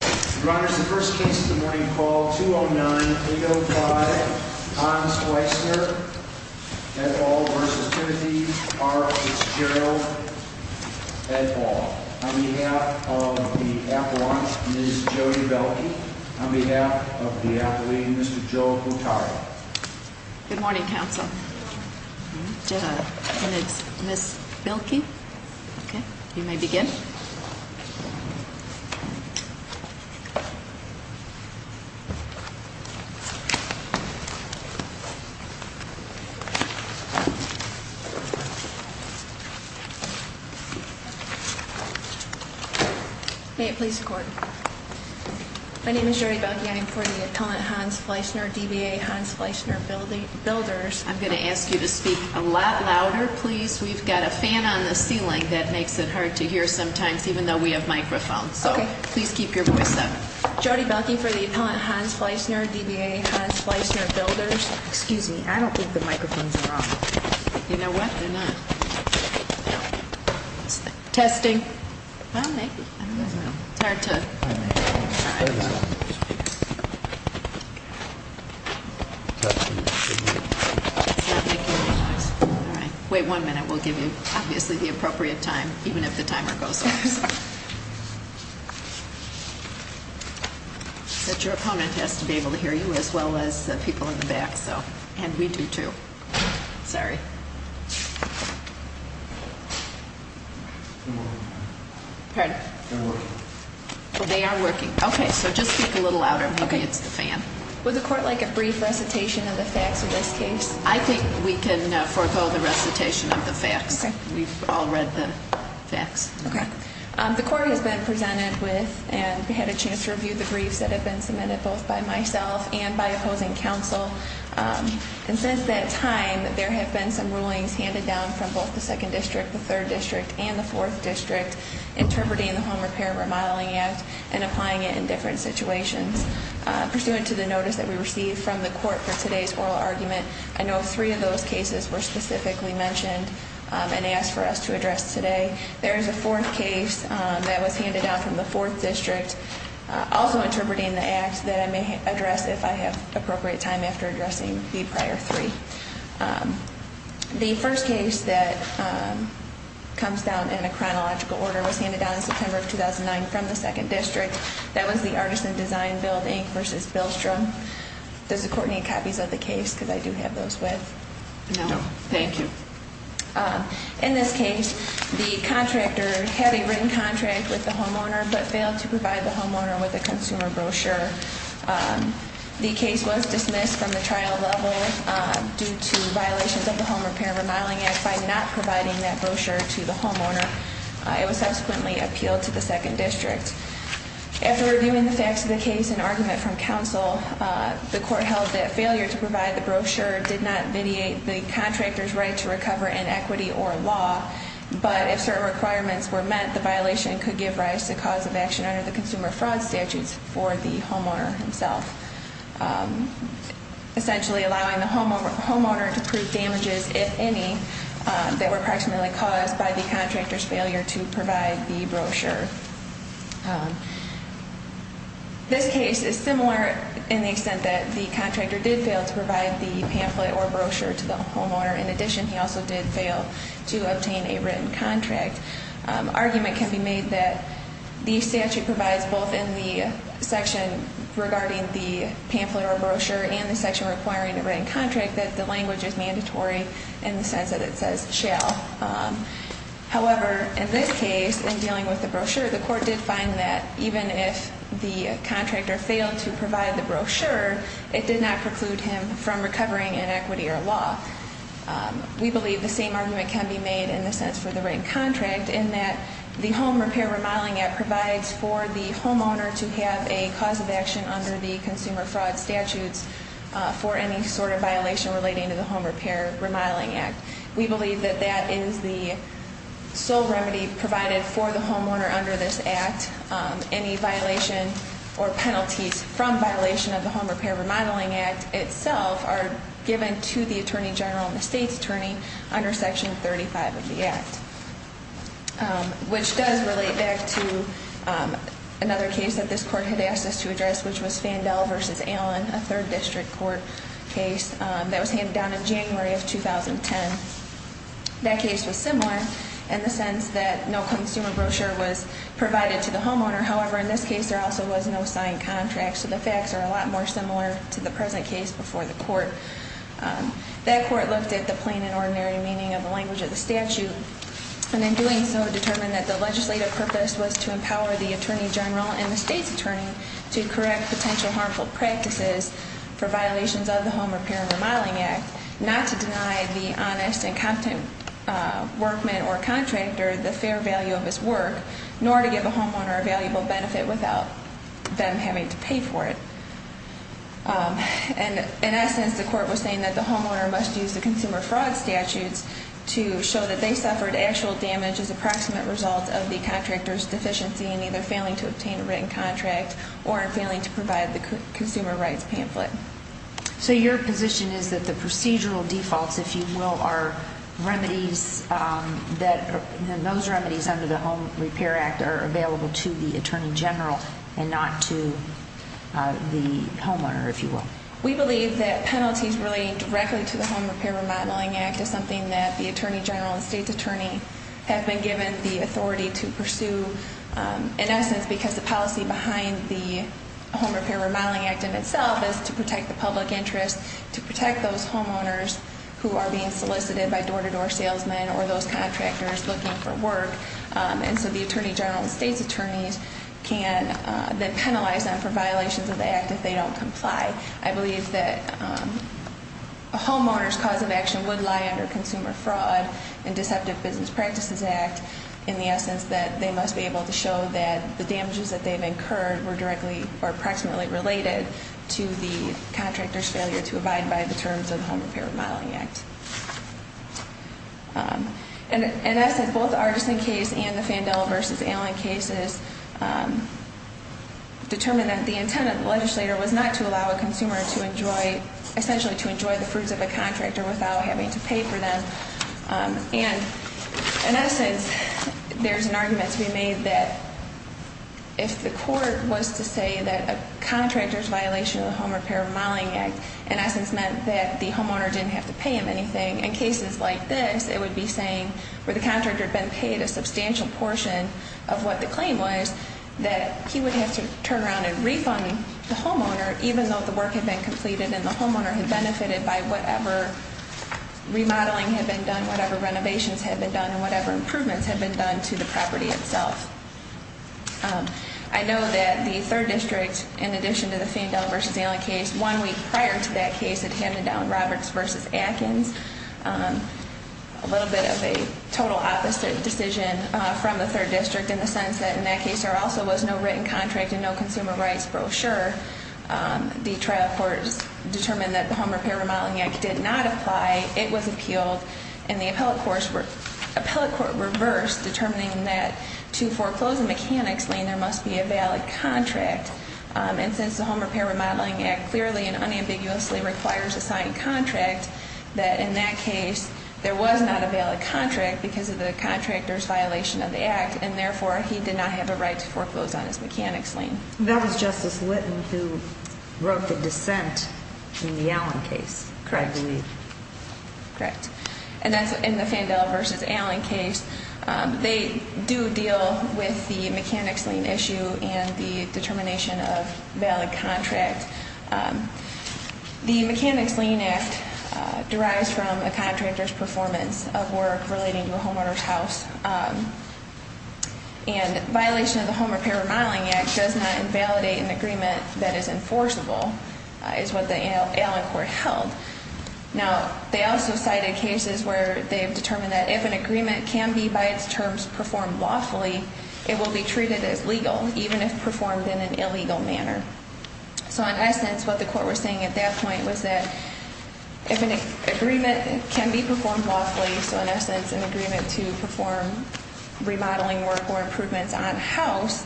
The first case of the morning, call 209-805, Hans Weissner, et al. v. Timothy R. Fitzgerald, et al. On behalf of the appellant, Ms. Jodi Bielke. On behalf of the appellee, Mr. Joe Cotari. Good morning, counsel. Good morning. And it's Ms. Bielke. Okay, you may begin. May it please the court. My name is Jodi Bielke. I am for the appellant, Hans Weissner, DBA, Hans Weissner, builders. I'm going to ask you to speak a lot louder, please. We've got a fan on the ceiling that makes it hard to hear sometimes, even though we have microphones. Okay. So please keep your voice up. Jodi Bielke for the appellant, Hans Weissner, DBA, Hans Weissner, builders. Excuse me, I don't think the microphones are on. You know what, they're not. Testing. It's not making any noise. All right. Wait one minute. We'll give you obviously the appropriate time, even if the timer goes off. Your opponent has to be able to hear you as well as the people in the back, and we do too. Sorry. Pardon? They're working. They are working. Okay. So just speak a little louder. Okay. Maybe it's the fan. Would the court like a brief recitation of the facts of this case? Okay. We've all read the facts. Okay. The court has been presented with and had a chance to review the briefs that have been submitted both by myself and by opposing counsel. And since that time, there have been some rulings handed down from both the 2nd District, the 3rd District, and the 4th District, interpreting the Home Repair Remodeling Act and applying it in different situations. Pursuant to the notice that we received from the court for today's oral argument, I know three of those cases were specifically mentioned and asked for us to address today. There is a fourth case that was handed down from the 4th District, also interpreting the act that I may address if I have appropriate time after addressing the prior three. The first case that comes down in a chronological order was handed down in September of 2009 from the 2nd District. That was the Artisan Design Building v. Bilstrom. Does the court need copies of the case because I do have those with? No. Thank you. In this case, the contractor had a written contract with the homeowner but failed to provide the homeowner with a consumer brochure. The case was dismissed from the trial level due to violations of the Home Repair Remodeling Act by not providing that brochure to the homeowner. It was subsequently appealed to the 2nd District. After reviewing the facts of the case and argument from counsel, the court held that failure to provide the brochure did not vitiate the contractor's right to recover in equity or law, but if certain requirements were met, the violation could give rise to cause of action under the Consumer Fraud Statutes for the homeowner himself, essentially allowing the homeowner to prove damages, if any, that were approximately caused by the contractor's failure to provide the brochure. This case is similar in the extent that the contractor did fail to provide the pamphlet or brochure to the homeowner. In addition, he also did fail to obtain a written contract. Argument can be made that the statute provides both in the section regarding the pamphlet or brochure and the section requiring a written contract that the language is mandatory in the sense that it says shall. However, in this case, in dealing with the brochure, the court did find that even if the contractor failed to provide the brochure, it did not preclude him from recovering in equity or law. We believe the same argument can be made in the sense for the written contract in that the Home Repair Remodeling Act provides for the homeowner to have a cause of action under the Consumer Fraud Statutes for any sort of violation relating to the Home Repair Remodeling Act. We believe that that is the sole remedy provided for the homeowner under this Act. Any violation or penalties from violation of the Home Repair Remodeling Act itself are given to the Attorney General and the State's Attorney under Section 35 of the Act, which does relate back to another case that this court had asked us to address, which was Fandel v. Allen, a third district court case that was handed down in January of 2010. That case was similar in the sense that no consumer brochure was provided to the homeowner. However, in this case, there also was no signed contract, so the facts are a lot more similar to the present case before the court. That court looked at the plain and ordinary meaning of the language of the statute and in doing so determined that the legislative purpose was to empower the Attorney General and the State's Attorney to correct potential harmful practices for violations of the Home Repair Remodeling Act, not to deny the honest and competent workman or contractor the fair value of his work, nor to give the homeowner a valuable benefit without them having to pay for it. In essence, the court was saying that the homeowner must use the Consumer Fraud Statutes to show that they suffered actual damage as approximate results of the contractor's deficiency in either failing to obtain a written contract or in failing to provide the consumer rights pamphlet. So your position is that the procedural defaults, if you will, are remedies that those remedies under the Home Repair Act are available to the Attorney General and not to the homeowner, if you will? We believe that penalties relating directly to the Home Repair Remodeling Act is something that the Attorney General and State's Attorney have been given the authority to pursue, in essence because the policy behind the Home Repair Remodeling Act in itself is to protect the public interest, to protect those homeowners who are being solicited by door-to-door salesmen or those contractors looking for work. And so the Attorney General and State's Attorneys can then penalize them for violations of the Act if they don't comply. I believe that a homeowner's cause of action would lie under Consumer Fraud and Deceptive Business Practices Act in the essence that they must be able to show that the damages that they've incurred were directly or approximately related to the contractor's failure to abide by the terms of the Home Repair Remodeling Act. In essence, both the Artisan case and the Fandel v. Allen cases determine that the intent of the legislator was not to allow a consumer to enjoy, essentially to enjoy the fruits of a contractor without having to pay for them. And in essence, there's an argument to be made that if the court was to say that a contractor's violation of the Home Repair Remodeling Act in essence meant that the homeowner didn't have to pay him anything, in cases like this, it would be saying where the contractor had been paid a substantial portion of what the claim was that he would have to turn around and refund the homeowner even though the work had been completed and the homeowner had benefited by whatever remodeling had been done, whatever renovations had been done, and whatever improvements had been done to the property itself. I know that the 3rd District, in addition to the Fandel v. Allen case, one week prior to that case had handed down Roberts v. Atkins, a little bit of a total opposite decision from the 3rd District in the sense that in that case there also was no written contract and no consumer rights brochure. The trial court determined that the Home Repair Remodeling Act did not apply, it was appealed, and the appellate court reversed, determining that to foreclose a mechanic's lien, there must be a valid contract. And since the Home Repair Remodeling Act clearly and unambiguously requires a signed contract, that in that case there was not a valid contract because of the contractor's violation of the act and therefore he did not have a right to foreclose on his mechanic's lien. That was Justice Litton who wrote the dissent in the Allen case, correct? Correct. And that's in the Fandel v. Allen case. They do deal with the mechanic's lien issue and the determination of a valid contract. The mechanic's lien act derives from a contractor's performance of work relating to a homeowner's house, and violation of the Home Repair Remodeling Act does not invalidate an agreement that is enforceable, is what the Allen court held. Now, they also cited cases where they've determined that if an agreement can be by its terms performed lawfully, it will be treated as legal, even if performed in an illegal manner. So in essence, what the court was saying at that point was that if an agreement can be performed lawfully, so in essence an agreement to perform remodeling work or improvements on house,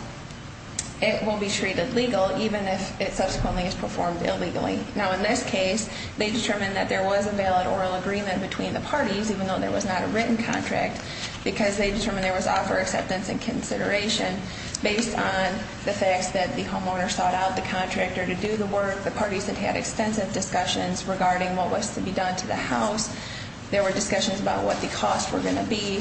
it will be treated legal even if it subsequently is performed illegally. Now, in this case, they determined that there was a valid oral agreement between the parties, even though there was not a written contract, because they determined there was offer, acceptance, and consideration based on the facts that the homeowner sought out the contractor to do the work. The parties had had extensive discussions regarding what was to be done to the house. There were discussions about what the costs were going to be.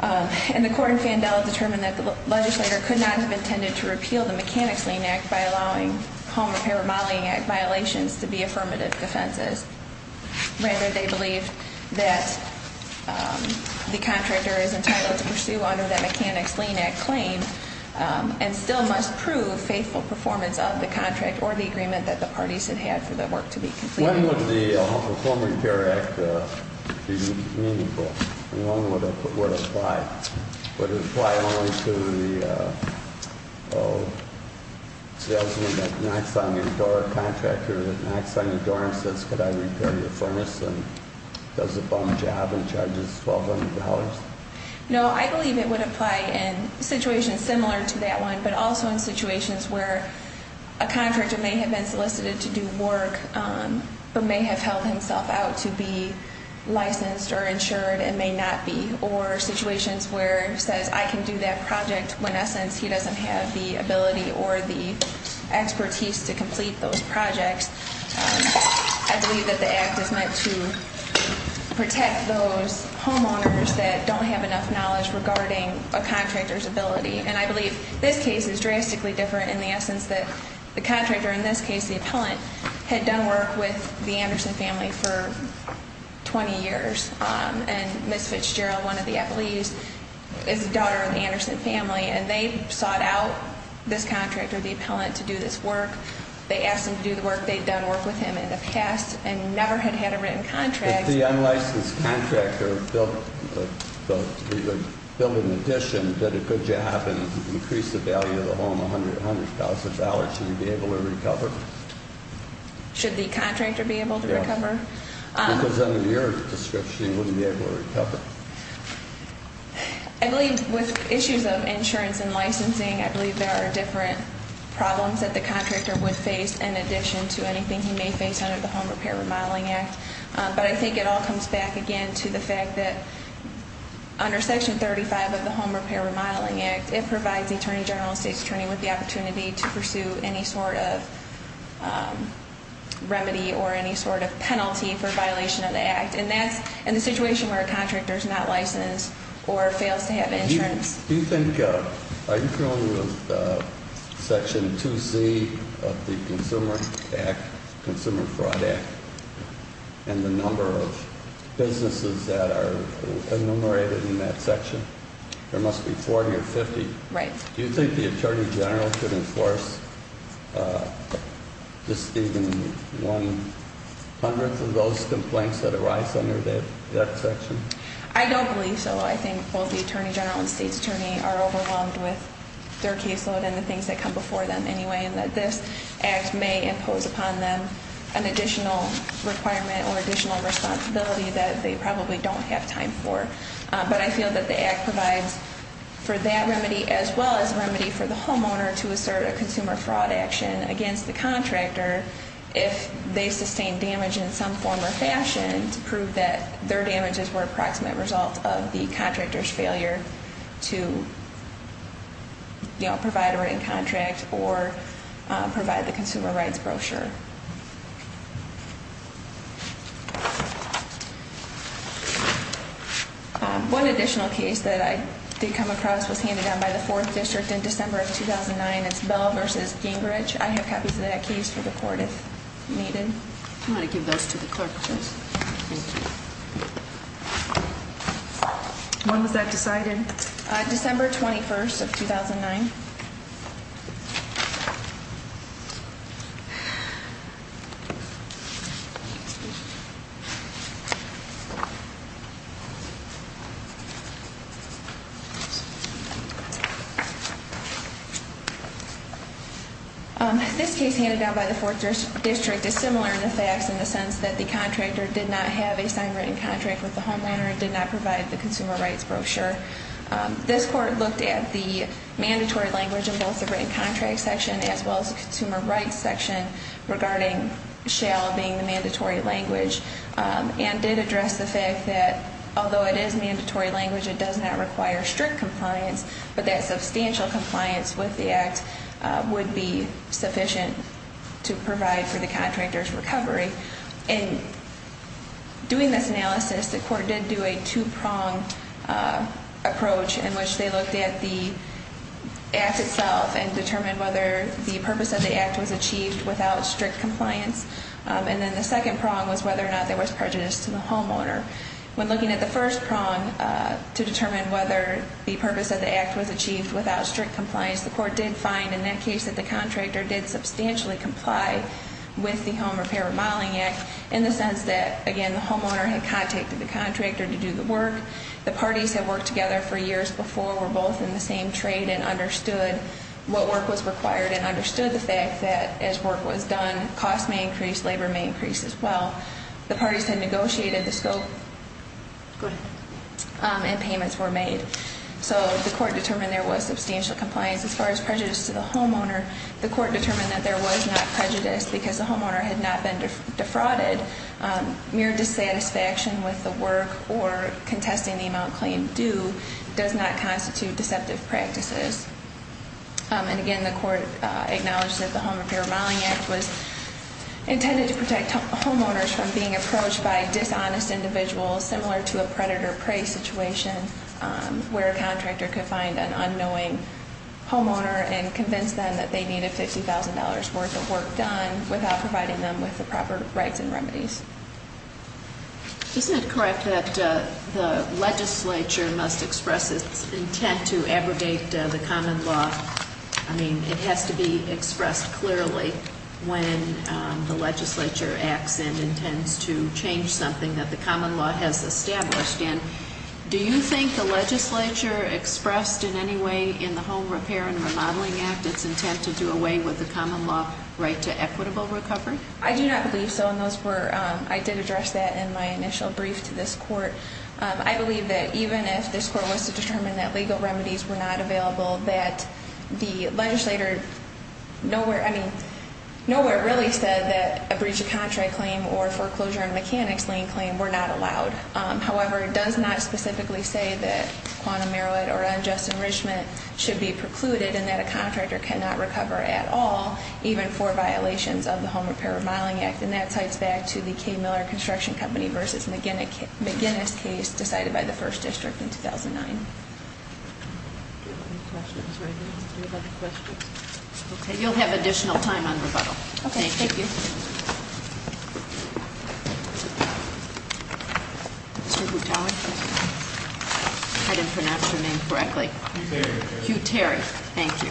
And the court in Fandel determined that the legislator could not have intended to repeal the mechanic's lien act by allowing Home Repair Modeling Act violations to be affirmative defenses. Rather, they believe that the contractor is entitled to pursue under that mechanic's lien act claim and still must prove faithful performance of the contract or the agreement that the parties had had for the work to be completed. When would the Home Repair Act be meaningful? And when would it apply? Would it apply only to the salesman that knocks on your door, a contractor that knocks on your door and says, could I repair your furnace and does a bum job and charges $1,200? No, I believe it would apply in situations similar to that one, but also in situations where a contractor may have been solicited to do work but may have held himself out to be licensed or insured and may not be, or situations where he says I can do that project when, in essence, he doesn't have the ability or the expertise to complete those projects. I believe that the act is meant to protect those homeowners that don't have enough knowledge regarding a contractor's ability. And I believe this case is drastically different in the essence that the contractor, in this case the appellant, had done work with the Anderson family for 20 years. And Ms. Fitzgerald, one of the appellees, is the daughter of the Anderson family, and they sought out this contractor, the appellant, to do this work. They asked him to do the work they'd done work with him in the past and never had had a written contract. If the unlicensed contractor built an addition, did a good job, and increased the value of the home $100,000, should he be able to recover? Should the contractor be able to recover? Because under your description, he wouldn't be able to recover. I believe with issues of insurance and licensing, I believe there are different problems that the contractor would face in addition to anything he may face under the Home Repair Remodeling Act. But I think it all comes back again to the fact that under Section 35 of the Home Repair Remodeling Act, it provides the Attorney General and State's Attorney with the opportunity to pursue any sort of remedy or any sort of penalty for violation of the act. And that's in the situation where a contractor is not licensed or fails to have insurance. Do you think, are you familiar with Section 2C of the Consumer Act, Consumer Fraud Act, and the number of businesses that are enumerated in that section? There must be 40 or 50. Right. Do you think the Attorney General could enforce just even one hundredth of those complaints that arise under that section? I don't believe so. I think both the Attorney General and State's Attorney are overwhelmed with their caseload and the things that come before them anyway, and that this act may impose upon them an additional requirement or additional responsibility that they probably don't have time for. But I feel that the act provides for that remedy as well as a remedy for the homeowner to assert a consumer fraud action against the contractor if they sustain damage in some form or fashion to prove that their damages were a proximate result of the contractor's failure to provide a written contract or provide the consumer rights brochure. One additional case that I did come across was handed down by the Fourth District in December of 2009. It's Bell v. Gingrich. I have copies of that case for the Court if needed. I'm going to give those to the clerk, please. Thank you. When was that decided? December 21st of 2009. This case handed down by the Fourth District is similar in the facts in the sense that the contractor did not have a signed written contract with the homeowner and did not provide the consumer rights brochure. This Court looked at the mandatory language in both the written contract section as well as the consumer rights section regarding shall being the mandatory language and did address the fact that although it is mandatory language, it does not require strict compliance, but that substantial compliance with the act would be sufficient to provide for the contractor's recovery. In doing this analysis, the Court did do a two-prong approach in which they looked at the act itself and determined whether the purpose of the act was achieved without strict compliance, and then the second prong was whether or not there was prejudice to the homeowner. When looking at the first prong to determine whether the purpose of the act was achieved without strict compliance, the Court did find in that case that the contractor did substantially comply with the Home Repair and Modeling Act in the sense that, again, the homeowner had contacted the contractor to do the work. The parties had worked together for years before, were both in the same trade, and understood what work was required and understood the fact that as work was done, cost may increase, labor may increase as well. The parties had negotiated the scope and payments were made. So the Court determined there was substantial compliance. As far as prejudice to the homeowner, the Court determined that there was not prejudice because the homeowner had not been defrauded. Mere dissatisfaction with the work or contesting the amount claimed due does not constitute deceptive practices. And again, the Court acknowledged that the Home Repair and Modeling Act was intended to protect homeowners from being approached by dishonest individuals similar to a predator-prey situation where a contractor could find an unknowing homeowner and convince them that they needed $50,000 worth of work done without providing them with the proper rights and remedies. Isn't it correct that the legislature must express its intent to abrogate the common law? I mean, it has to be expressed clearly when the legislature acts and intends to change something that the common law has established. And do you think the legislature expressed in any way in the Home Repair and Remodeling Act its intent to do away with the common law right to equitable recovery? I do not believe so, and I did address that in my initial brief to this Court. I believe that even if this Court was to determine that legal remedies were not available, that the legislator nowhere really said that a breach of contract claim or foreclosure on a mechanic's lien claim were not allowed. However, it does not specifically say that quantum merit or unjust enrichment should be precluded and that a contractor cannot recover at all, even for violations of the Home Repair and Modeling Act. And that cites back to the K. Miller Construction Company v. McGinnis case decided by the 1st District in 2009. Any questions? Okay, you'll have additional time on rebuttal. Okay, thank you. Mr. Guttawi? I didn't pronounce your name correctly. Hugh Terry. Hugh Terry, thank you.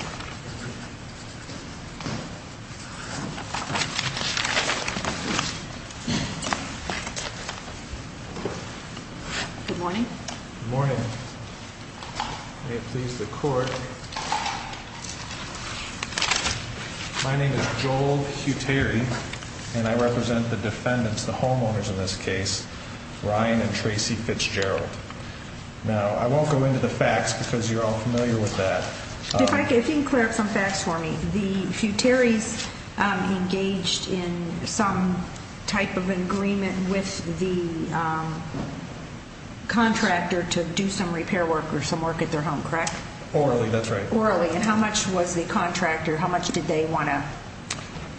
Good morning. Good morning. May it please the Court. My name is Joel Hugh Terry, and I represent the defendants, the homeowners in this case, Ryan and Tracy Fitzgerald. Now, I won't go into the facts because you're all familiar with that. If you can clear up some facts for me. Hugh Terry's engaged in some type of agreement with the contractor to do some repair work or some work at their home, correct? Orally, that's right. Orally. And how much was the contractor, how much did they want to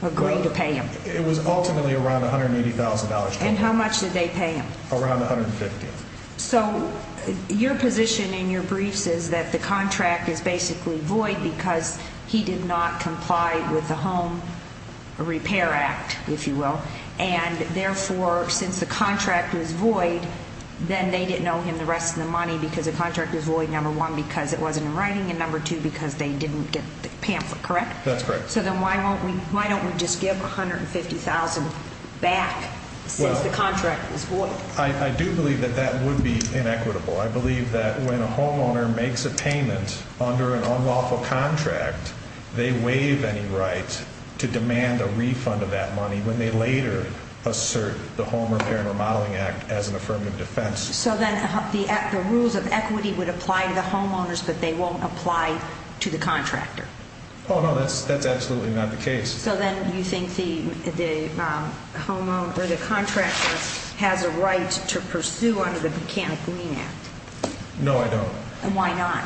agree to pay him? It was ultimately around $180,000. And how much did they pay him? Around $150,000. Okay. So your position in your briefs is that the contract is basically void because he did not comply with the Home Repair Act, if you will. And, therefore, since the contract was void, then they didn't owe him the rest of the money because the contract was void, number one, because it wasn't in writing, and number two, because they didn't get the pamphlet, correct? That's correct. So then why don't we just give $150,000 back since the contract was void? Well, I do believe that that would be inequitable. I believe that when a homeowner makes a payment under an unlawful contract, they waive any right to demand a refund of that money when they later assert the Home Repair and Remodeling Act as an affirmative defense. So then the rules of equity would apply to the homeowners but they won't apply to the contractor? Oh, no, that's absolutely not the case. So then you think the contractor has a right to pursue under the Mechanical Mean Act? No, I don't. And why not?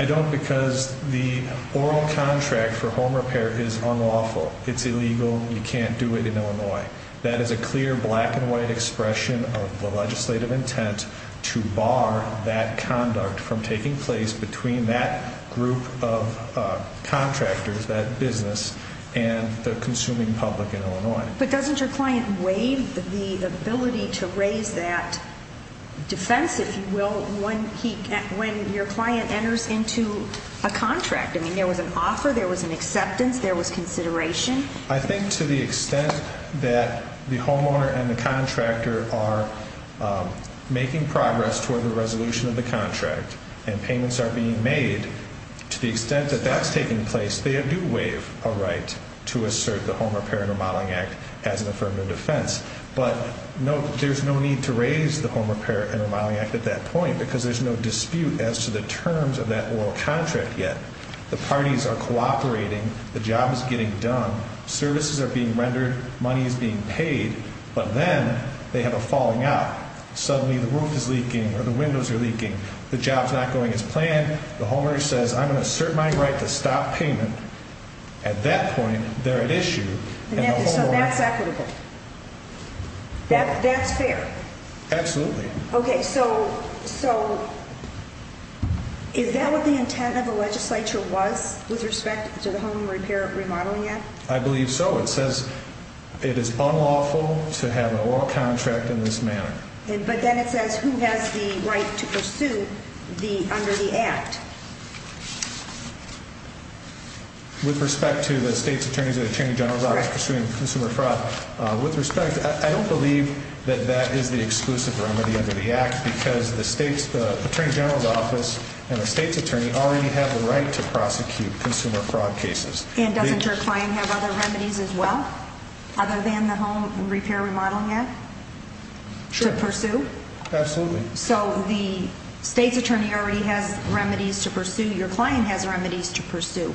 I don't because the oral contract for home repair is unlawful. It's illegal. You can't do it in Illinois. That is a clear black and white expression of the legislative intent to bar that conduct from taking place between that group of contractors, that business, and the consuming public in Illinois. But doesn't your client waive the ability to raise that defense, if you will, when your client enters into a contract? I mean, there was an offer, there was an acceptance, there was consideration. I think to the extent that the homeowner and the contractor are making progress toward the resolution of the contract and payments are being made, to the extent that that's taking place, they do waive a right to assert the Home Repair and Remodeling Act as an affirmative defense. But there's no need to raise the Home Repair and Remodeling Act at that point because there's no dispute as to the terms of that oral contract yet. The parties are cooperating. The job is getting done. Services are being rendered. Money is being paid. But then they have a falling out. Suddenly the roof is leaking or the windows are leaking. The job's not going as planned. The homeowner says, I'm going to assert my right to stop payment. At that point, they're at issue. So that's equitable? That's fair? Absolutely. Okay, so is that what the intent of the legislature was with respect to the Home Repair and Remodeling Act? I believe so. It says it is unlawful to have an oral contract in this manner. But then it says who has the right to pursue under the Act? With respect to the State's Attorney's and Attorney General's Office pursuing consumer fraud, with respect, I don't believe that that is the exclusive remedy under the Act because the State's Attorney General's Office and the State's Attorney already have the right to prosecute consumer fraud cases. And doesn't your client have other remedies as well, other than the Home Repair and Remodeling Act? Sure. To pursue? Absolutely. So the State's Attorney already has remedies to pursue. Your client has remedies to pursue.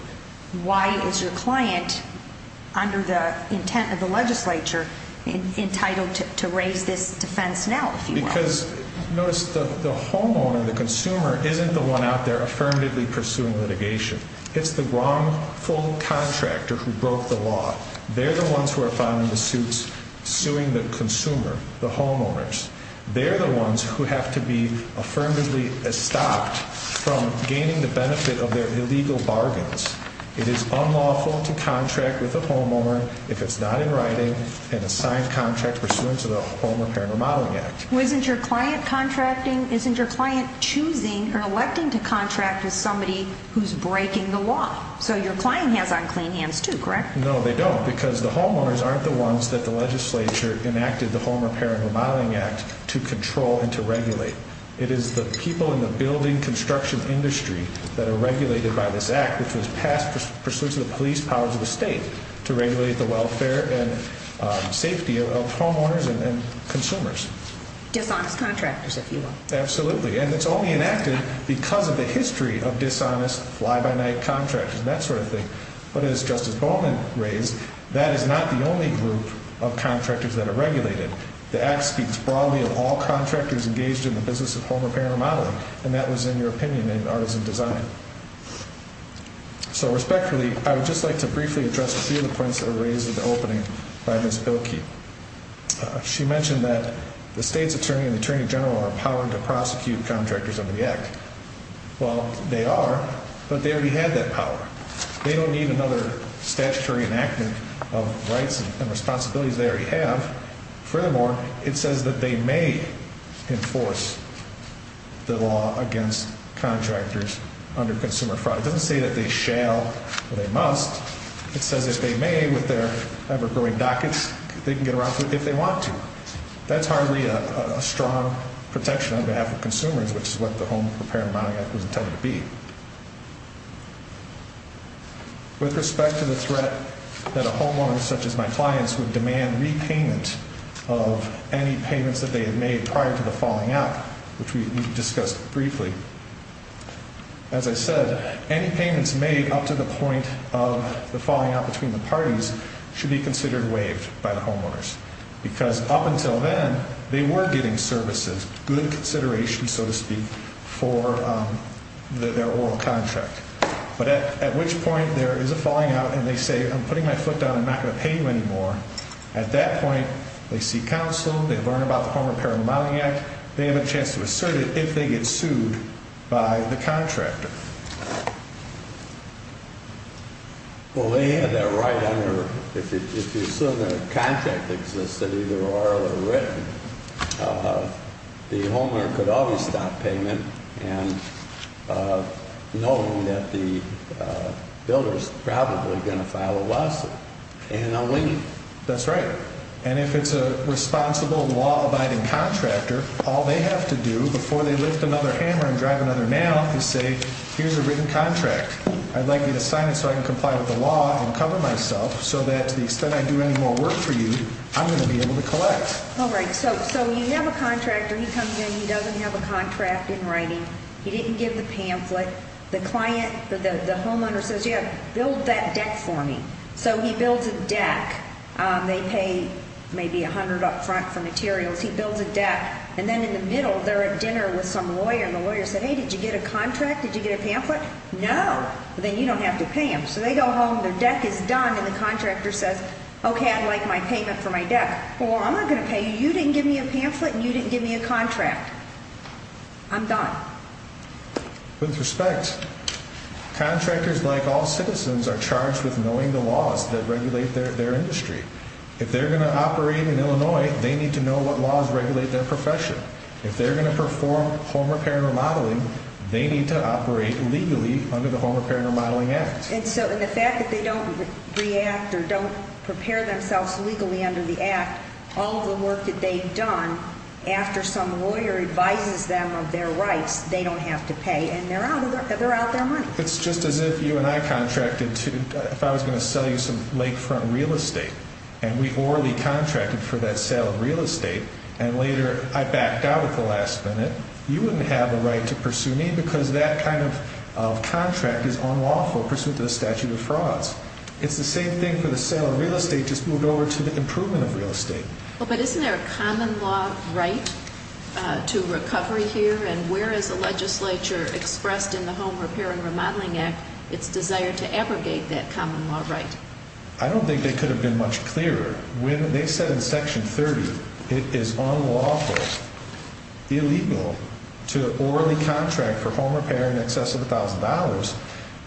Why is your client, under the intent of the legislature, entitled to raise this defense now, if you will? Because, notice, the homeowner, the consumer, isn't the one out there affirmatively pursuing litigation. It's the wrongful contractor who broke the law. They're the ones who are filing the suits suing the consumer, the homeowners. They're the ones who have to be affirmatively stopped from gaining the benefit of their illegal bargains. It is unlawful to contract with a homeowner if it's not in writing and a signed contract pursuant to the Home Repair and Remodeling Act. Well, isn't your client contracting? Isn't your client choosing or electing to contract with somebody who's breaking the law? So your client has unclean hands, too, correct? No, they don't, because the homeowners aren't the ones that the legislature enacted the Home Repair and Remodeling Act to control and to regulate. It is the people in the building construction industry that are regulated by this act, which was passed pursuant to the police powers of the state to regulate the welfare and safety of homeowners and consumers. Dishonest contractors, if you will. Absolutely. And it's only enacted because of the history of dishonest fly-by-night contractors and that sort of thing. But as Justice Bowman raised, that is not the only group of contractors that are regulated. The act speaks broadly of all contractors engaged in the business of home repair and remodeling, and that was in your opinion in Artisan Design. So respectfully, I would just like to briefly address a few of the points that were raised at the opening by Ms. Bilkey. She mentioned that the state's attorney and attorney general are empowered to prosecute contractors under the act. Well, they are, but they already have that power. They don't need another statutory enactment of rights and responsibilities they already have. Furthermore, it says that they may enforce the law against contractors under consumer fraud. It doesn't say that they shall or they must. It says if they may with their ever-growing dockets, they can get around to it if they want to. That's hardly a strong protection on behalf of consumers, which is what the Home Repair and Remodeling Act was intended to be. With respect to the threat that a homeowner such as my clients would demand repayment of any payments that they had made prior to the falling out, which we discussed briefly, as I said, any payments made up to the point of the falling out between the parties should be considered waived by the homeowners. Because up until then, they were getting services, good consideration, so to speak, for their oral contract. But at which point there is a falling out and they say, I'm putting my foot down. I'm not going to pay you anymore. At that point, they seek counsel. They learn about the Home Repair and Remodeling Act. They have a chance to assert it if they get sued by the contractor. Well, they had that right under, if you assume that a contract existed, either oral or written, the homeowner could always stop payment knowing that the builder is probably going to file a lawsuit and a lien. That's right. And if it's a responsible, law-abiding contractor, all they have to do before they lift another hammer and drive another nail is say, here's a written contract. I'd like you to sign it so I can comply with the law and cover myself so that to the extent I do any more work for you, I'm going to be able to collect. All right. So you have a contractor. He comes in. He doesn't have a contract in writing. He didn't give the pamphlet. The client, the homeowner says, yeah, build that deck for me. So he builds a deck. They pay maybe $100 up front for materials. He builds a deck. And then in the middle, they're at dinner with some lawyer. And the lawyer said, hey, did you get a contract? Did you get a pamphlet? No. Then you don't have to pay them. So they go home, their deck is done, and the contractor says, okay, I'd like my payment for my deck. Well, I'm not going to pay you. You didn't give me a pamphlet and you didn't give me a contract. I'm done. With respect, contractors, like all citizens, are charged with knowing the laws that regulate their industry. If they're going to operate in Illinois, they need to know what laws regulate their profession. If they're going to perform home repair and remodeling, they need to operate legally under the Home Repair and Remodeling Act. And so the fact that they don't react or don't prepare themselves legally under the act, all the work that they've done, after some lawyer advises them of their rights, they don't have to pay, and they're out their money. It's just as if you and I contracted to, if I was going to sell you some lakefront real estate, and we orally contracted for that sale of real estate, and later I backed out at the last minute, you wouldn't have the right to pursue me because that kind of contract is unlawful, pursuant to the statute of frauds. It's the same thing for the sale of real estate, just moved over to the improvement of real estate. But isn't there a common law right to recovery here, and where is the legislature expressed in the Home Repair and Remodeling Act its desire to abrogate that common law right? I don't think they could have been much clearer. When they said in Section 30 it is unlawful, illegal, to orally contract for home repair in excess of $1,000,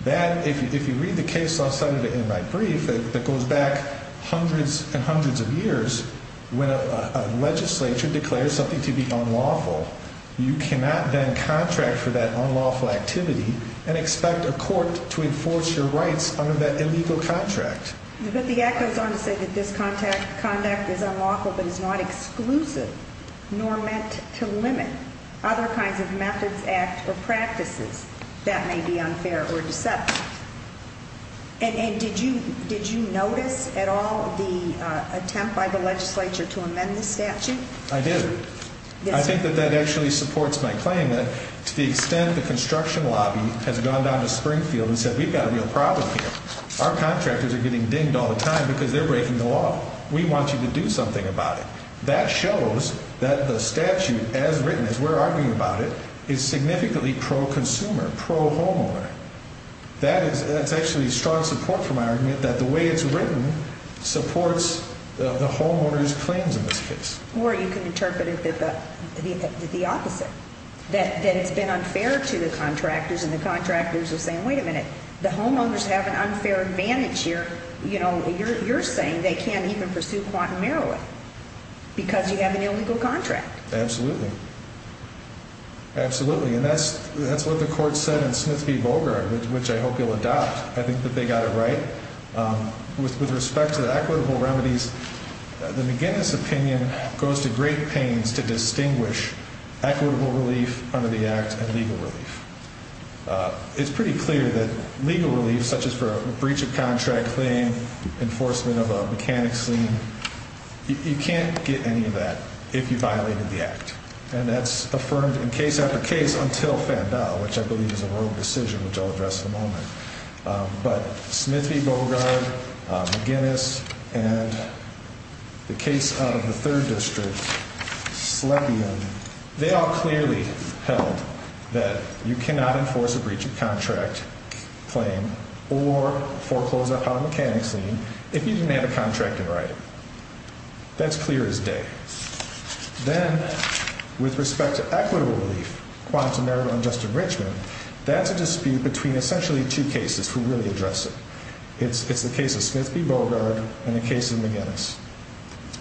that, if you read the case I cited in my brief that goes back hundreds and hundreds of years, when a legislature declares something to be unlawful, you cannot then contract for that unlawful activity and expect a court to enforce your rights under that illegal contract. But the act goes on to say that this conduct is unlawful but is not exclusive, nor meant to limit other kinds of methods, acts, or practices that may be unfair or deceptive. And did you notice at all the attempt by the legislature to amend the statute? I did. I think that that actually supports my claim that to the extent the construction lobby has gone down to Springfield and said we've got a real problem here, our contractors are getting dinged all the time because they're breaking the law. We want you to do something about it. That shows that the statute as written, as we're arguing about it, is significantly pro-consumer, pro-homeowner. That's actually strong support for my argument that the way it's written supports the homeowner's claims in this case. Or you can interpret it the opposite, that it's been unfair to the contractors and the contractors are saying, wait a minute, the homeowners have an unfair advantage here. You're saying they can't even pursue quantum heroin because you have an illegal contract. Absolutely. Absolutely. And that's what the court said in Smith v. Bogart, which I hope you'll adopt. I think that they got it right. With respect to the equitable remedies, the McGinnis opinion goes to great pains to distinguish equitable relief under the Act and legal relief. It's pretty clear that legal relief, such as for a breach of contract claim, enforcement of a mechanics lien, you can't get any of that if you violated the Act. And that's affirmed in case after case until Fandel, which I believe is a rogue decision, which I'll address in a moment. But Smith v. Bogart, McGinnis, and the case out of the third district, Slepian, they all clearly held that you cannot enforce a breach of contract claim or foreclose upon mechanics lien if you didn't have a contract in writing. That's clear as day. Then with respect to equitable relief, quantum heroin and just enrichment, that's a dispute between essentially two cases who really address it. It's the case of Smith v. Bogart and the case of McGinnis.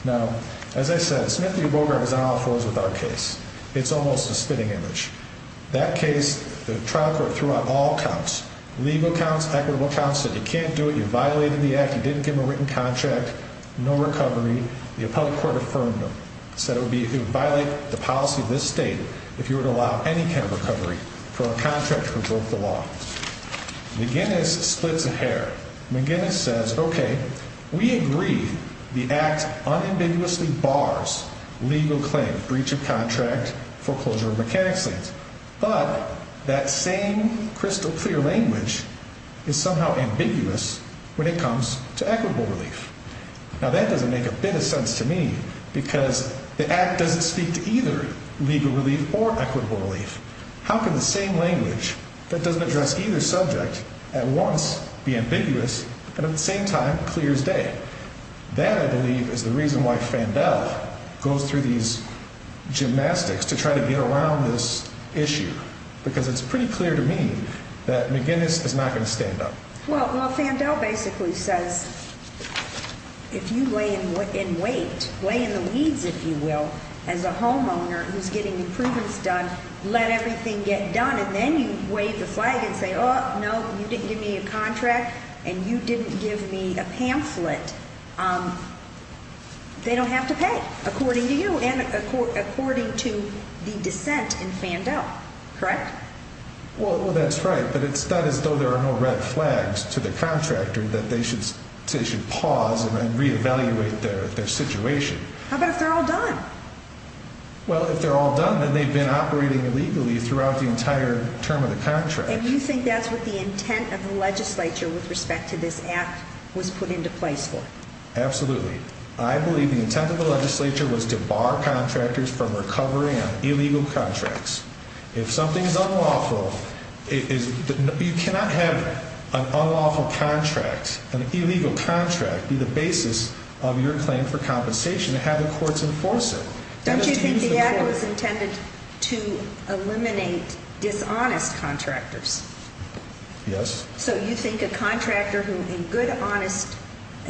Now, as I said, Smith v. Bogart is on all fours with our case. It's almost a spitting image. That case, the trial court threw out all counts, legal counts, equitable counts, said you can't do it, you violated the Act, you didn't give a written contract, no recovery. The appellate court affirmed them, said it would violate the policy of this state if you were to allow any kind of recovery for a contractor who broke the law. McGinnis splits a hair. McGinnis says, okay, we agree the Act unambiguously bars legal claim, breach of contract, foreclosure of mechanics liens. But that same crystal clear language is somehow ambiguous when it comes to equitable relief. Now, that doesn't make a bit of sense to me because the Act doesn't speak to either legal relief or equitable relief. How can the same language that doesn't address either subject at once be ambiguous and at the same time clear as day? That, I believe, is the reason why Fandel goes through these gymnastics to try to get around this issue because it's pretty clear to me that McGinnis is not going to stand up. Well, Fandel basically says if you lay in wait, lay in the weeds, if you will, as a homeowner who's getting improvements done, let everything get done, and then you wave the flag and say, oh, no, you didn't give me a contract and you didn't give me a pamphlet, they don't have to pay, according to you and according to the dissent in Fandel, correct? Well, that's right, but it's not as though there are no red flags to the contractor that they should pause and reevaluate their situation. How about if they're all done? Well, if they're all done, then they've been operating illegally throughout the entire term of the contract. And you think that's what the intent of the legislature with respect to this Act was put into place for? Absolutely. I believe the intent of the legislature was to bar contractors from recovering on illegal contracts. If something is unlawful, you cannot have an unlawful contract, an illegal contract, be the basis of your claim for compensation and have the courts enforce it. Don't you think the Act was intended to eliminate dishonest contractors? Yes. So you think a contractor who in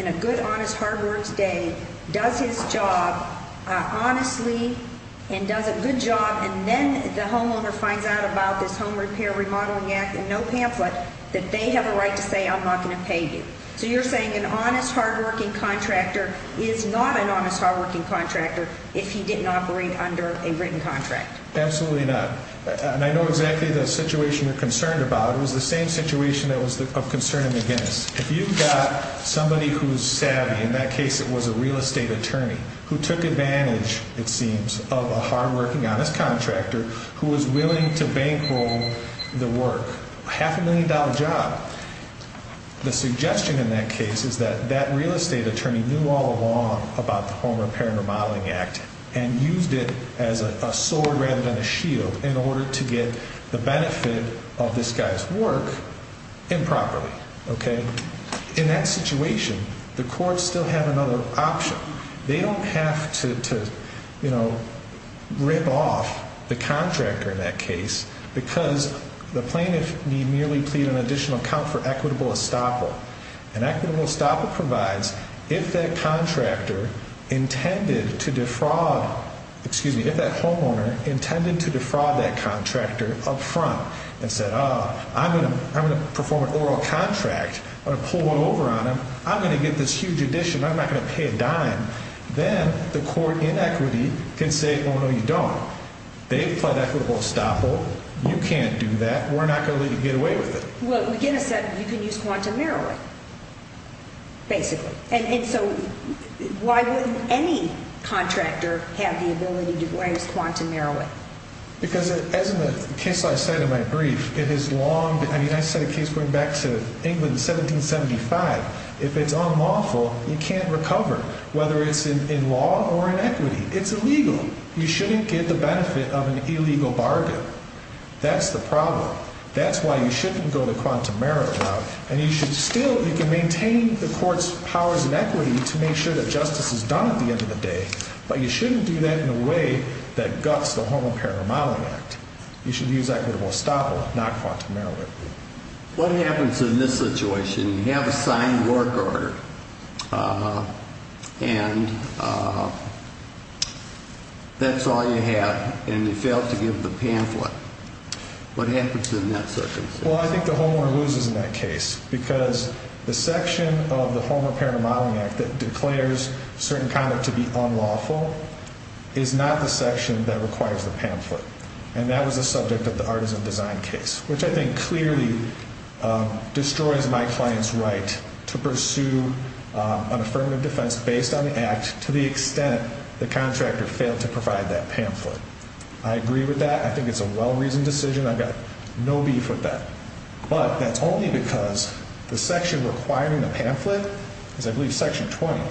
a good, honest hard work's day does his job honestly and does a good job and then the homeowner finds out about this Home Repair Remodeling Act and no pamphlet that they have a right to say I'm not going to pay you. So you're saying an honest, hardworking contractor is not an honest, hardworking contractor if he didn't operate under a written contract. Absolutely not. And I know exactly the situation you're concerned about. It was the same situation that was of concern in the Guinness. If you've got somebody who's savvy, in that case it was a real estate attorney, who took advantage, it seems, of a hardworking, honest contractor who was willing to bankroll the work, a half a million dollar job, the suggestion in that case is that that real estate attorney knew all along about the Home Repair and Remodeling Act and used it as a sword rather than a shield in order to get the benefit of this guy's work improperly. In that situation, the courts still have another option. They don't have to rip off the contractor in that case because the plaintiff need merely plead an additional account for equitable estoppel. And equitable estoppel provides if that contractor intended to defraud, excuse me, if that homeowner intended to defraud that contractor up front and said, oh, I'm going to perform an oral contract, I'm going to pull one over on him, I'm going to get this huge addition, I'm not going to pay a dime, then the court in equity can say, oh, no, you don't. They've pled equitable estoppel. You can't do that. We're not going to let you get away with it. Well, McGinnis said you can use quantum narrowing, basically. And so why wouldn't any contractor have the ability to use quantum narrowing? Because as in the case I said in my brief, it is long, I mean, I said a case going back to England in 1775. If it's unlawful, you can't recover, whether it's in law or in equity. It's illegal. You shouldn't get the benefit of an illegal bargain. That's the problem. That's why you shouldn't go to quantum narrowing. And you should still, you can maintain the court's powers in equity to make sure that justice is done at the end of the day, but you shouldn't do that in a way that guts the Home Impairment Remodeling Act. You should use equitable estoppel, not quantum narrowing. What happens in this situation, you have a signed work order, and that's all you have, and you fail to give the pamphlet. What happens in that circumstance? Well, I think the homeowner loses in that case because the section of the Home Impairment Remodeling Act that declares certain conduct to be unlawful is not the section that requires the pamphlet, and that was the subject of the artisan design case, which I think clearly destroys my client's right to pursue an affirmative defense based on the act to the extent the contractor failed to provide that pamphlet. I agree with that. I think it's a well-reasoned decision. I've got no beef with that. But that's only because the section requiring the pamphlet is, I believe, Section 20.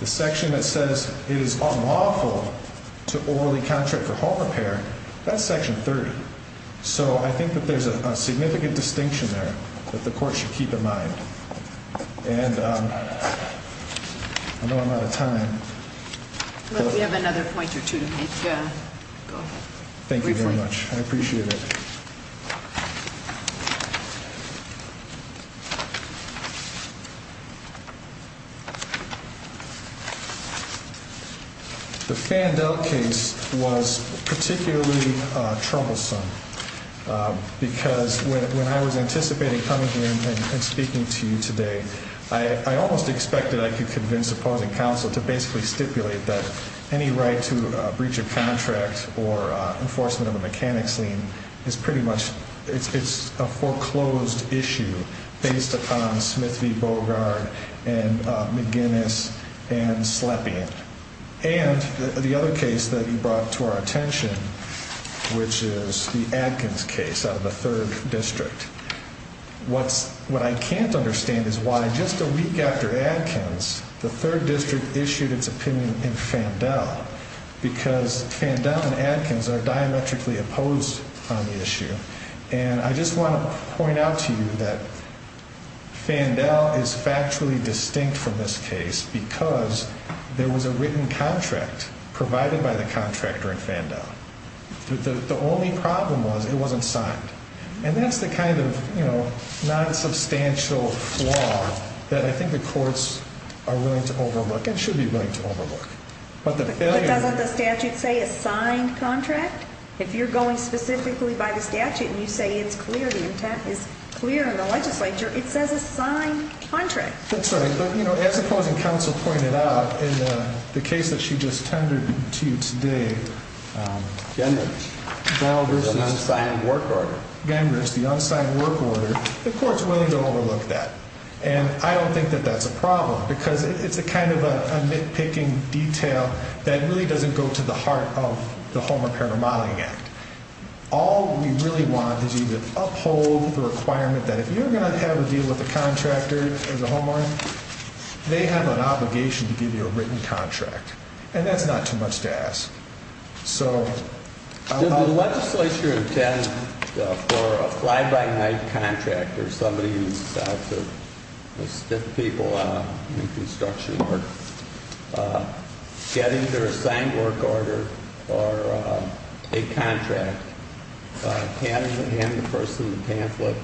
The section that says it is unlawful to orally contract for home repair, that's Section 30. So I think that there's a significant distinction there that the court should keep in mind. And I know I'm out of time. We have another point or two to make. Go ahead. Thank you very much. I appreciate it. The Fandel case was particularly troublesome because when I was anticipating coming here and speaking to you today, I almost expected I could convince opposing counsel to basically stipulate that any right to breach a contract or enforcement of a mechanics lien is pretty much a foreclosed issue based upon Smith v. Bogard and McGinnis and Slepian. And the other case that you brought to our attention, which is the Adkins case out of the 3rd District. What I can't understand is why just a week after Adkins, the 3rd District issued its opinion in Fandel because Fandel and Adkins are diametrically opposed on the issue. And I just want to point out to you that Fandel is factually distinct from this case because there was a written contract provided by the contractor in Fandel. The only problem was it wasn't signed. And that's the kind of non-substantial flaw that I think the courts are willing to overlook and should be willing to overlook. But doesn't the statute say a signed contract? If you're going specifically by the statute and you say it's clear, the intent is clear in the legislature, it says a signed contract. That's right. But, you know, as opposing counsel pointed out, in the case that she just tendered to you today, Gengrich, the unsigned work order, the court's willing to overlook that. And I don't think that that's a problem because it's a kind of nitpicking detail that really doesn't go to the heart of the Homeowner Parent Modeling Act. All we really want is you to uphold the requirement that if you're going to have a deal with a contractor as a homeowner, they have an obligation to give you a written contract. And that's not too much to ask. Did the legislature intend for a fly-by-night contractor, somebody who's out to stick people in construction work, getting their signed work order or a contract, hand the person the pamphlet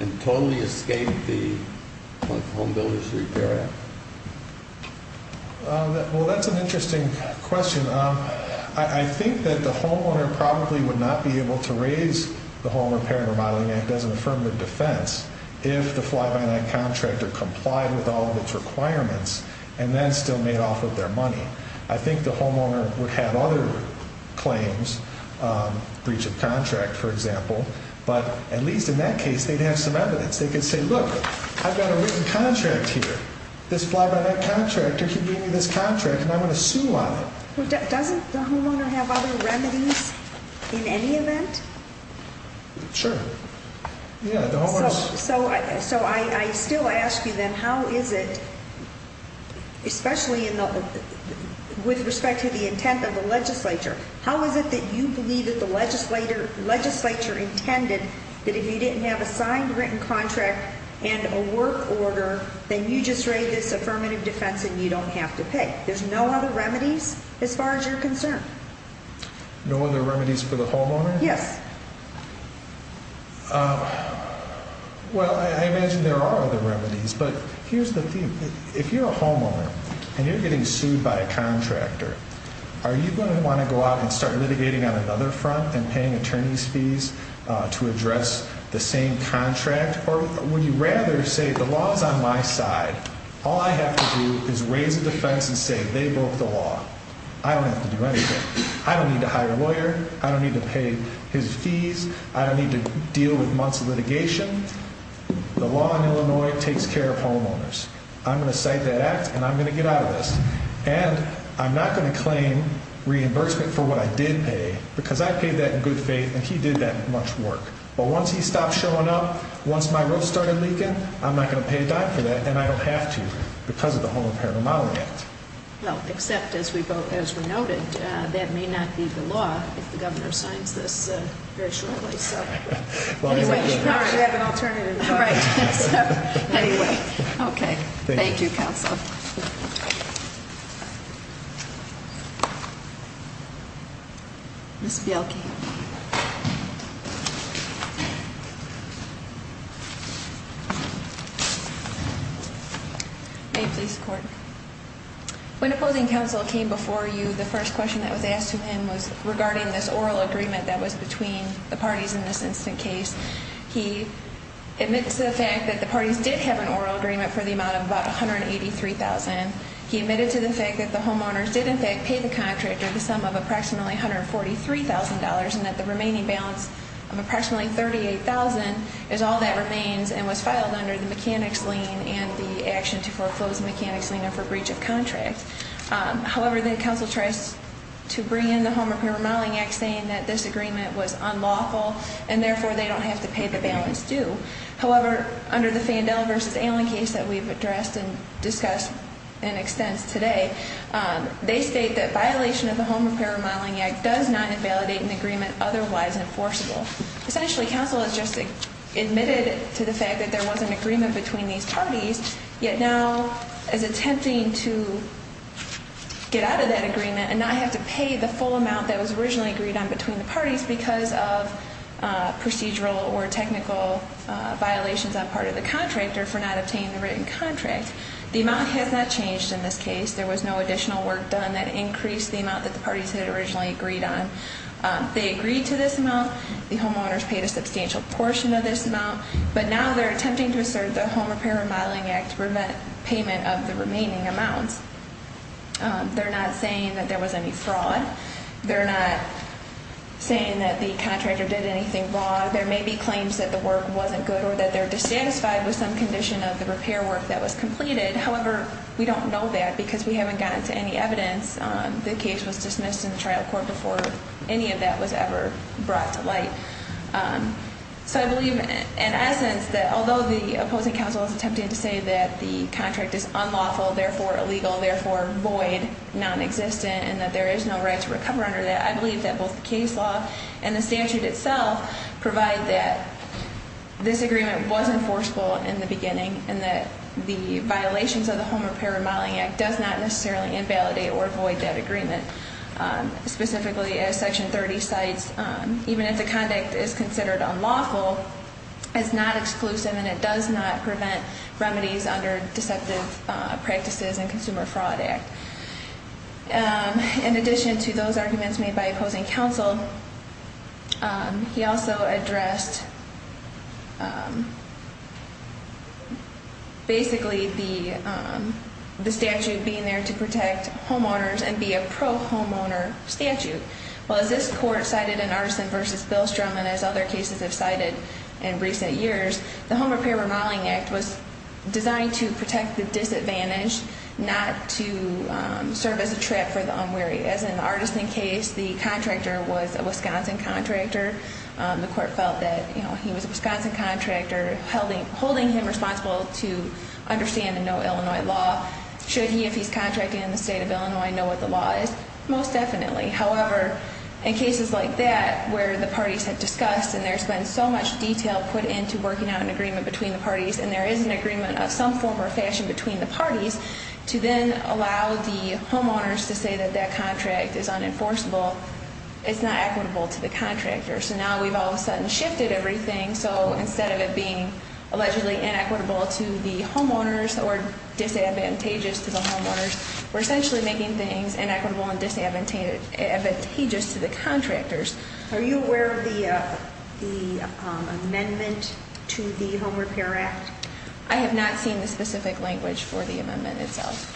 and totally escape the Home Builders Repair Act? Well, that's an interesting question. I think that the homeowner probably would not be able to raise the Home Repair and Remodeling Act as an affirmative defense if the fly-by-night contractor complied with all of its requirements and then still made off of their money. I think the homeowner would have other claims, breach of contract, for example. But at least in that case, they'd have some evidence. They could say, look, I've got a written contract here. This fly-by-night contractor, he gave me this contract, and I'm going to sue on it. Doesn't the homeowner have other remedies in any event? Sure. So I still ask you then, how is it, especially with respect to the intent of the legislature, how is it that you believe that the legislature intended that if you didn't have a signed written contract and a work order, then you just raise this affirmative defense and you don't have to pay? There's no other remedies as far as you're concerned? No other remedies for the homeowner? Yes. Well, I imagine there are other remedies, but here's the thing. If you're a homeowner and you're getting sued by a contractor, are you going to want to go out and start litigating on another front and paying attorney's fees to address the same contract? Or would you rather say the law is on my side, all I have to do is raise a defense and say they broke the law. I don't have to do anything. I don't need to hire a lawyer. I don't need to pay his fees. I don't need to deal with months of litigation. The law in Illinois takes care of homeowners. I'm going to cite that act, and I'm going to get out of this. And I'm not going to claim reimbursement for what I did pay, because I paid that in good faith, and he did that much work. But once he stops showing up, once my roof started leaking, I'm not going to pay a dime for that, and I don't have to because of the Home Impairment Model Act. Well, except as we noted, that may not be the law if the governor signs this very shortly. We have an alternative. Right. Anyway. Okay. Thank you, Counsel. Ms. Bielke. May it please the Court. When opposing counsel came before you, the first question that was asked of him was regarding this oral agreement that was between the parties in this instant case. He admits to the fact that the parties did have an oral agreement for the amount of about $183,000. He admitted to the fact that the homeowners did, in fact, pay the contractor the sum of approximately $143,000 and that the remaining balance of approximately $38,000 is all that remains and was filed under the mechanics lien and the action to foreclose the mechanics lien and for breach of contract. However, then counsel tries to bring in the Home Repair Modeling Act saying that this agreement was unlawful and therefore they don't have to pay the balance due. However, under the Fandel v. Allen case that we've addressed and discussed and extents today, they state that violation of the Home Repair Modeling Act does not invalidate an agreement otherwise enforceable. Essentially, counsel has just admitted to the fact that there was an agreement between these parties, yet now is attempting to get out of that agreement and not have to pay the full amount that was originally agreed on between the parties because of procedural or technical violations on part of the contractor for not obtaining the written contract. The amount has not changed in this case. There was no additional work done that increased the amount that the parties had originally agreed on. They agreed to this amount. The homeowners paid a substantial portion of this amount. But now they're attempting to assert the Home Repair Modeling Act payment of the remaining amounts. They're not saying that there was any fraud. They're not saying that the contractor did anything wrong. There may be claims that the work wasn't good or that they're dissatisfied with some condition of the repair work that was completed. However, we don't know that because we haven't gotten to any evidence. The case was dismissed in the trial court before any of that was ever brought to light. So I believe, in essence, that although the opposing counsel is attempting to say that the contract is unlawful, therefore illegal, therefore void, non-existent, and that there is no right to recover under that, I believe that both the case law and the statute itself provide that this agreement was enforceable in the beginning and that the violations of the Home Repair Modeling Act does not necessarily invalidate or void that agreement. Specifically, as Section 30 cites, even if the conduct is considered unlawful, it's not exclusive and it does not prevent remedies under deceptive practices and Consumer Fraud Act. In addition to those arguments made by opposing counsel, he also addressed basically the statute being there to protect homeowners and be a pro-homeowner statute. Well, as this court cited in Artisan v. Billstrom and as other cases have cited in recent years, the Home Repair Modeling Act was designed to protect the disadvantaged, not to serve as a trap for the unwary. As in the Artisan case, the contractor was a Wisconsin contractor. The court felt that he was a Wisconsin contractor, holding him responsible to understand the no Illinois law. Should he, if he's contracting in the state of Illinois, know what the law is? Most definitely. However, in cases like that where the parties have discussed and there's been so much detail put into working out an agreement between the parties and there is an agreement of some form or fashion between the parties, to then allow the homeowners to say that that contract is unenforceable, it's not equitable to the contractor. So now we've all of a sudden shifted everything. So instead of it being allegedly inequitable to the homeowners or disadvantageous to the homeowners, we're essentially making things inequitable and disadvantageous to the contractors. Are you aware of the amendment to the Home Repair Act? I have not seen the specific language for the amendment itself.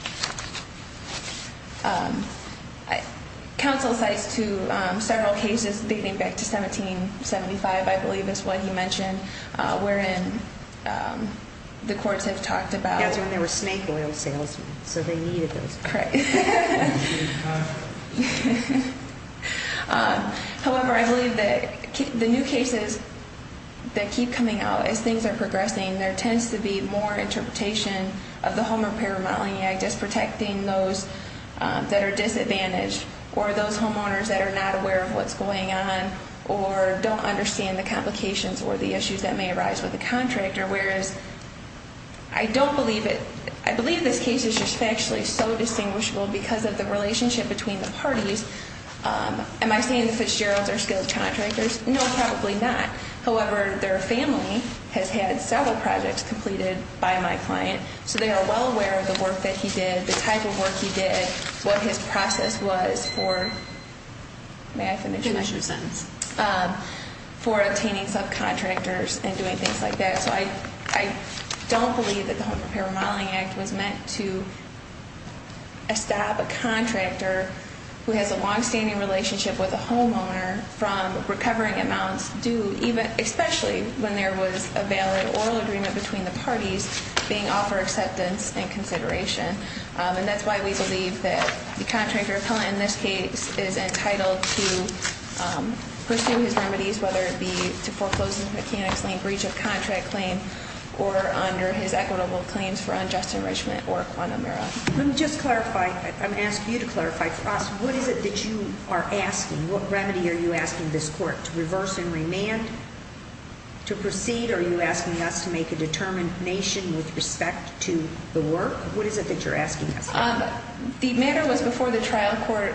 Counsel cites several cases dating back to 1775, I believe is what he mentioned, wherein the courts have talked about That's when there were snake oil salesmen, so they needed those. Right. However, I believe that the new cases that keep coming out, as things are progressing, there tends to be more interpretation of the Home Repair Remodeling Act as protecting those that are disadvantaged or those homeowners that are not aware of what's going on or don't understand the complications or the issues that may arise with the contractor. Whereas, I don't believe it. I believe this case is just factually so distinguishable because of the relationship between the parties. Am I saying the Fitzgeralds are skilled contractors? No, probably not. However, their family has had several projects completed by my client, so they are well aware of the work that he did, the type of work he did, what his process was for obtaining subcontractors and doing things like that. So I don't believe that the Home Repair Remodeling Act was meant to stop a contractor who has a longstanding relationship with a homeowner from recovering amounts due, especially when there was a valid oral agreement between the parties, being offered acceptance and consideration. And that's why we believe that the contractor appellant in this case is entitled to pursue his remedies, whether it be to foreclose his mechanics lien breach of contract claim or under his equitable claims for unjust enrichment or quantum error. Let me just clarify. I'm asking you to clarify for us. What is it that you are asking? What remedy are you asking this court? To reverse and remand? To proceed? Are you asking us to make a determination with respect to the work? What is it that you're asking us? The matter was before the trial court.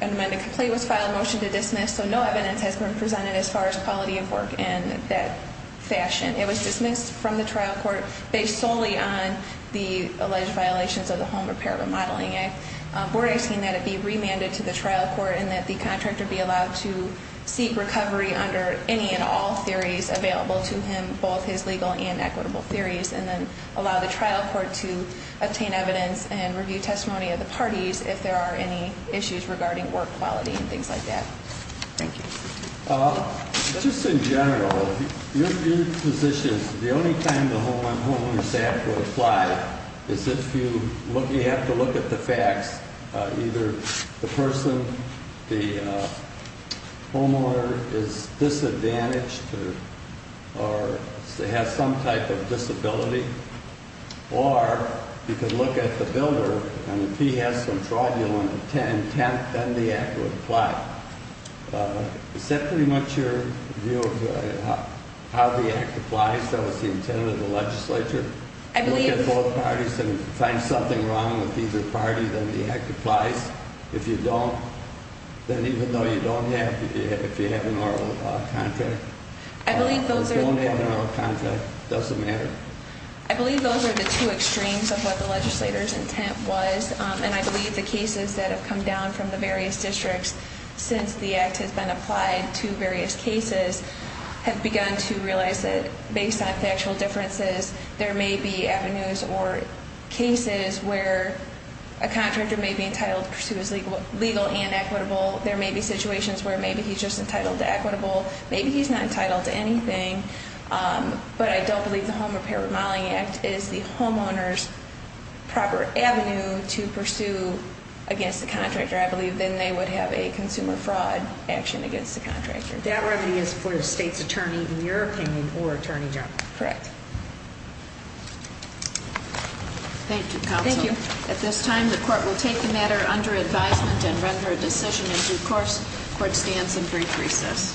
An amended complaint was filed, motion to dismiss. So no evidence has been presented as far as quality of work in that fashion. It was dismissed from the trial court based solely on the alleged violations of the Home Repair Remodeling Act. We're asking that it be remanded to the trial court and that the contractor be allowed to seek recovery under any and all theories available to him, both his legal and equitable theories, and then allow the trial court to obtain evidence and review testimony of the parties if there are any issues regarding work quality and things like that. Thank you. Just in general, your position is the only time the homeowner is asked to apply is if you have to look at the facts, either the person, the homeowner, is disadvantaged or has some type of disability, or you could look at the builder and if he has some fraudulent intent, then the act would apply. Is that pretty much your view of how the act applies? That was the intent of the legislature? I believe... If you look at both parties and find something wrong with either party, then the act applies. If you don't, then even though you don't have, if you have an oral contract... I believe those are... If you don't have an oral contract, it doesn't matter. I believe those are the two extremes of what the legislator's intent was, and I believe the cases that have come down from the various districts since the act has been applied to various cases have begun to realize that based on factual differences, there may be avenues or cases where a contractor may be entitled to pursue his legal and equitable, there may be situations where maybe he's just entitled to equitable, maybe he's not entitled to anything, but I don't believe the Home Repair Remodeling Act is the homeowner's proper avenue to pursue against the contractor. I believe then they would have a consumer fraud action against the contractor. That remedy is for the state's attorney, in your opinion, or Attorney General. Correct. Thank you, Counsel. Thank you. At this time, the Court will take the matter under advisement and render a decision in due course. Court stands in brief recess.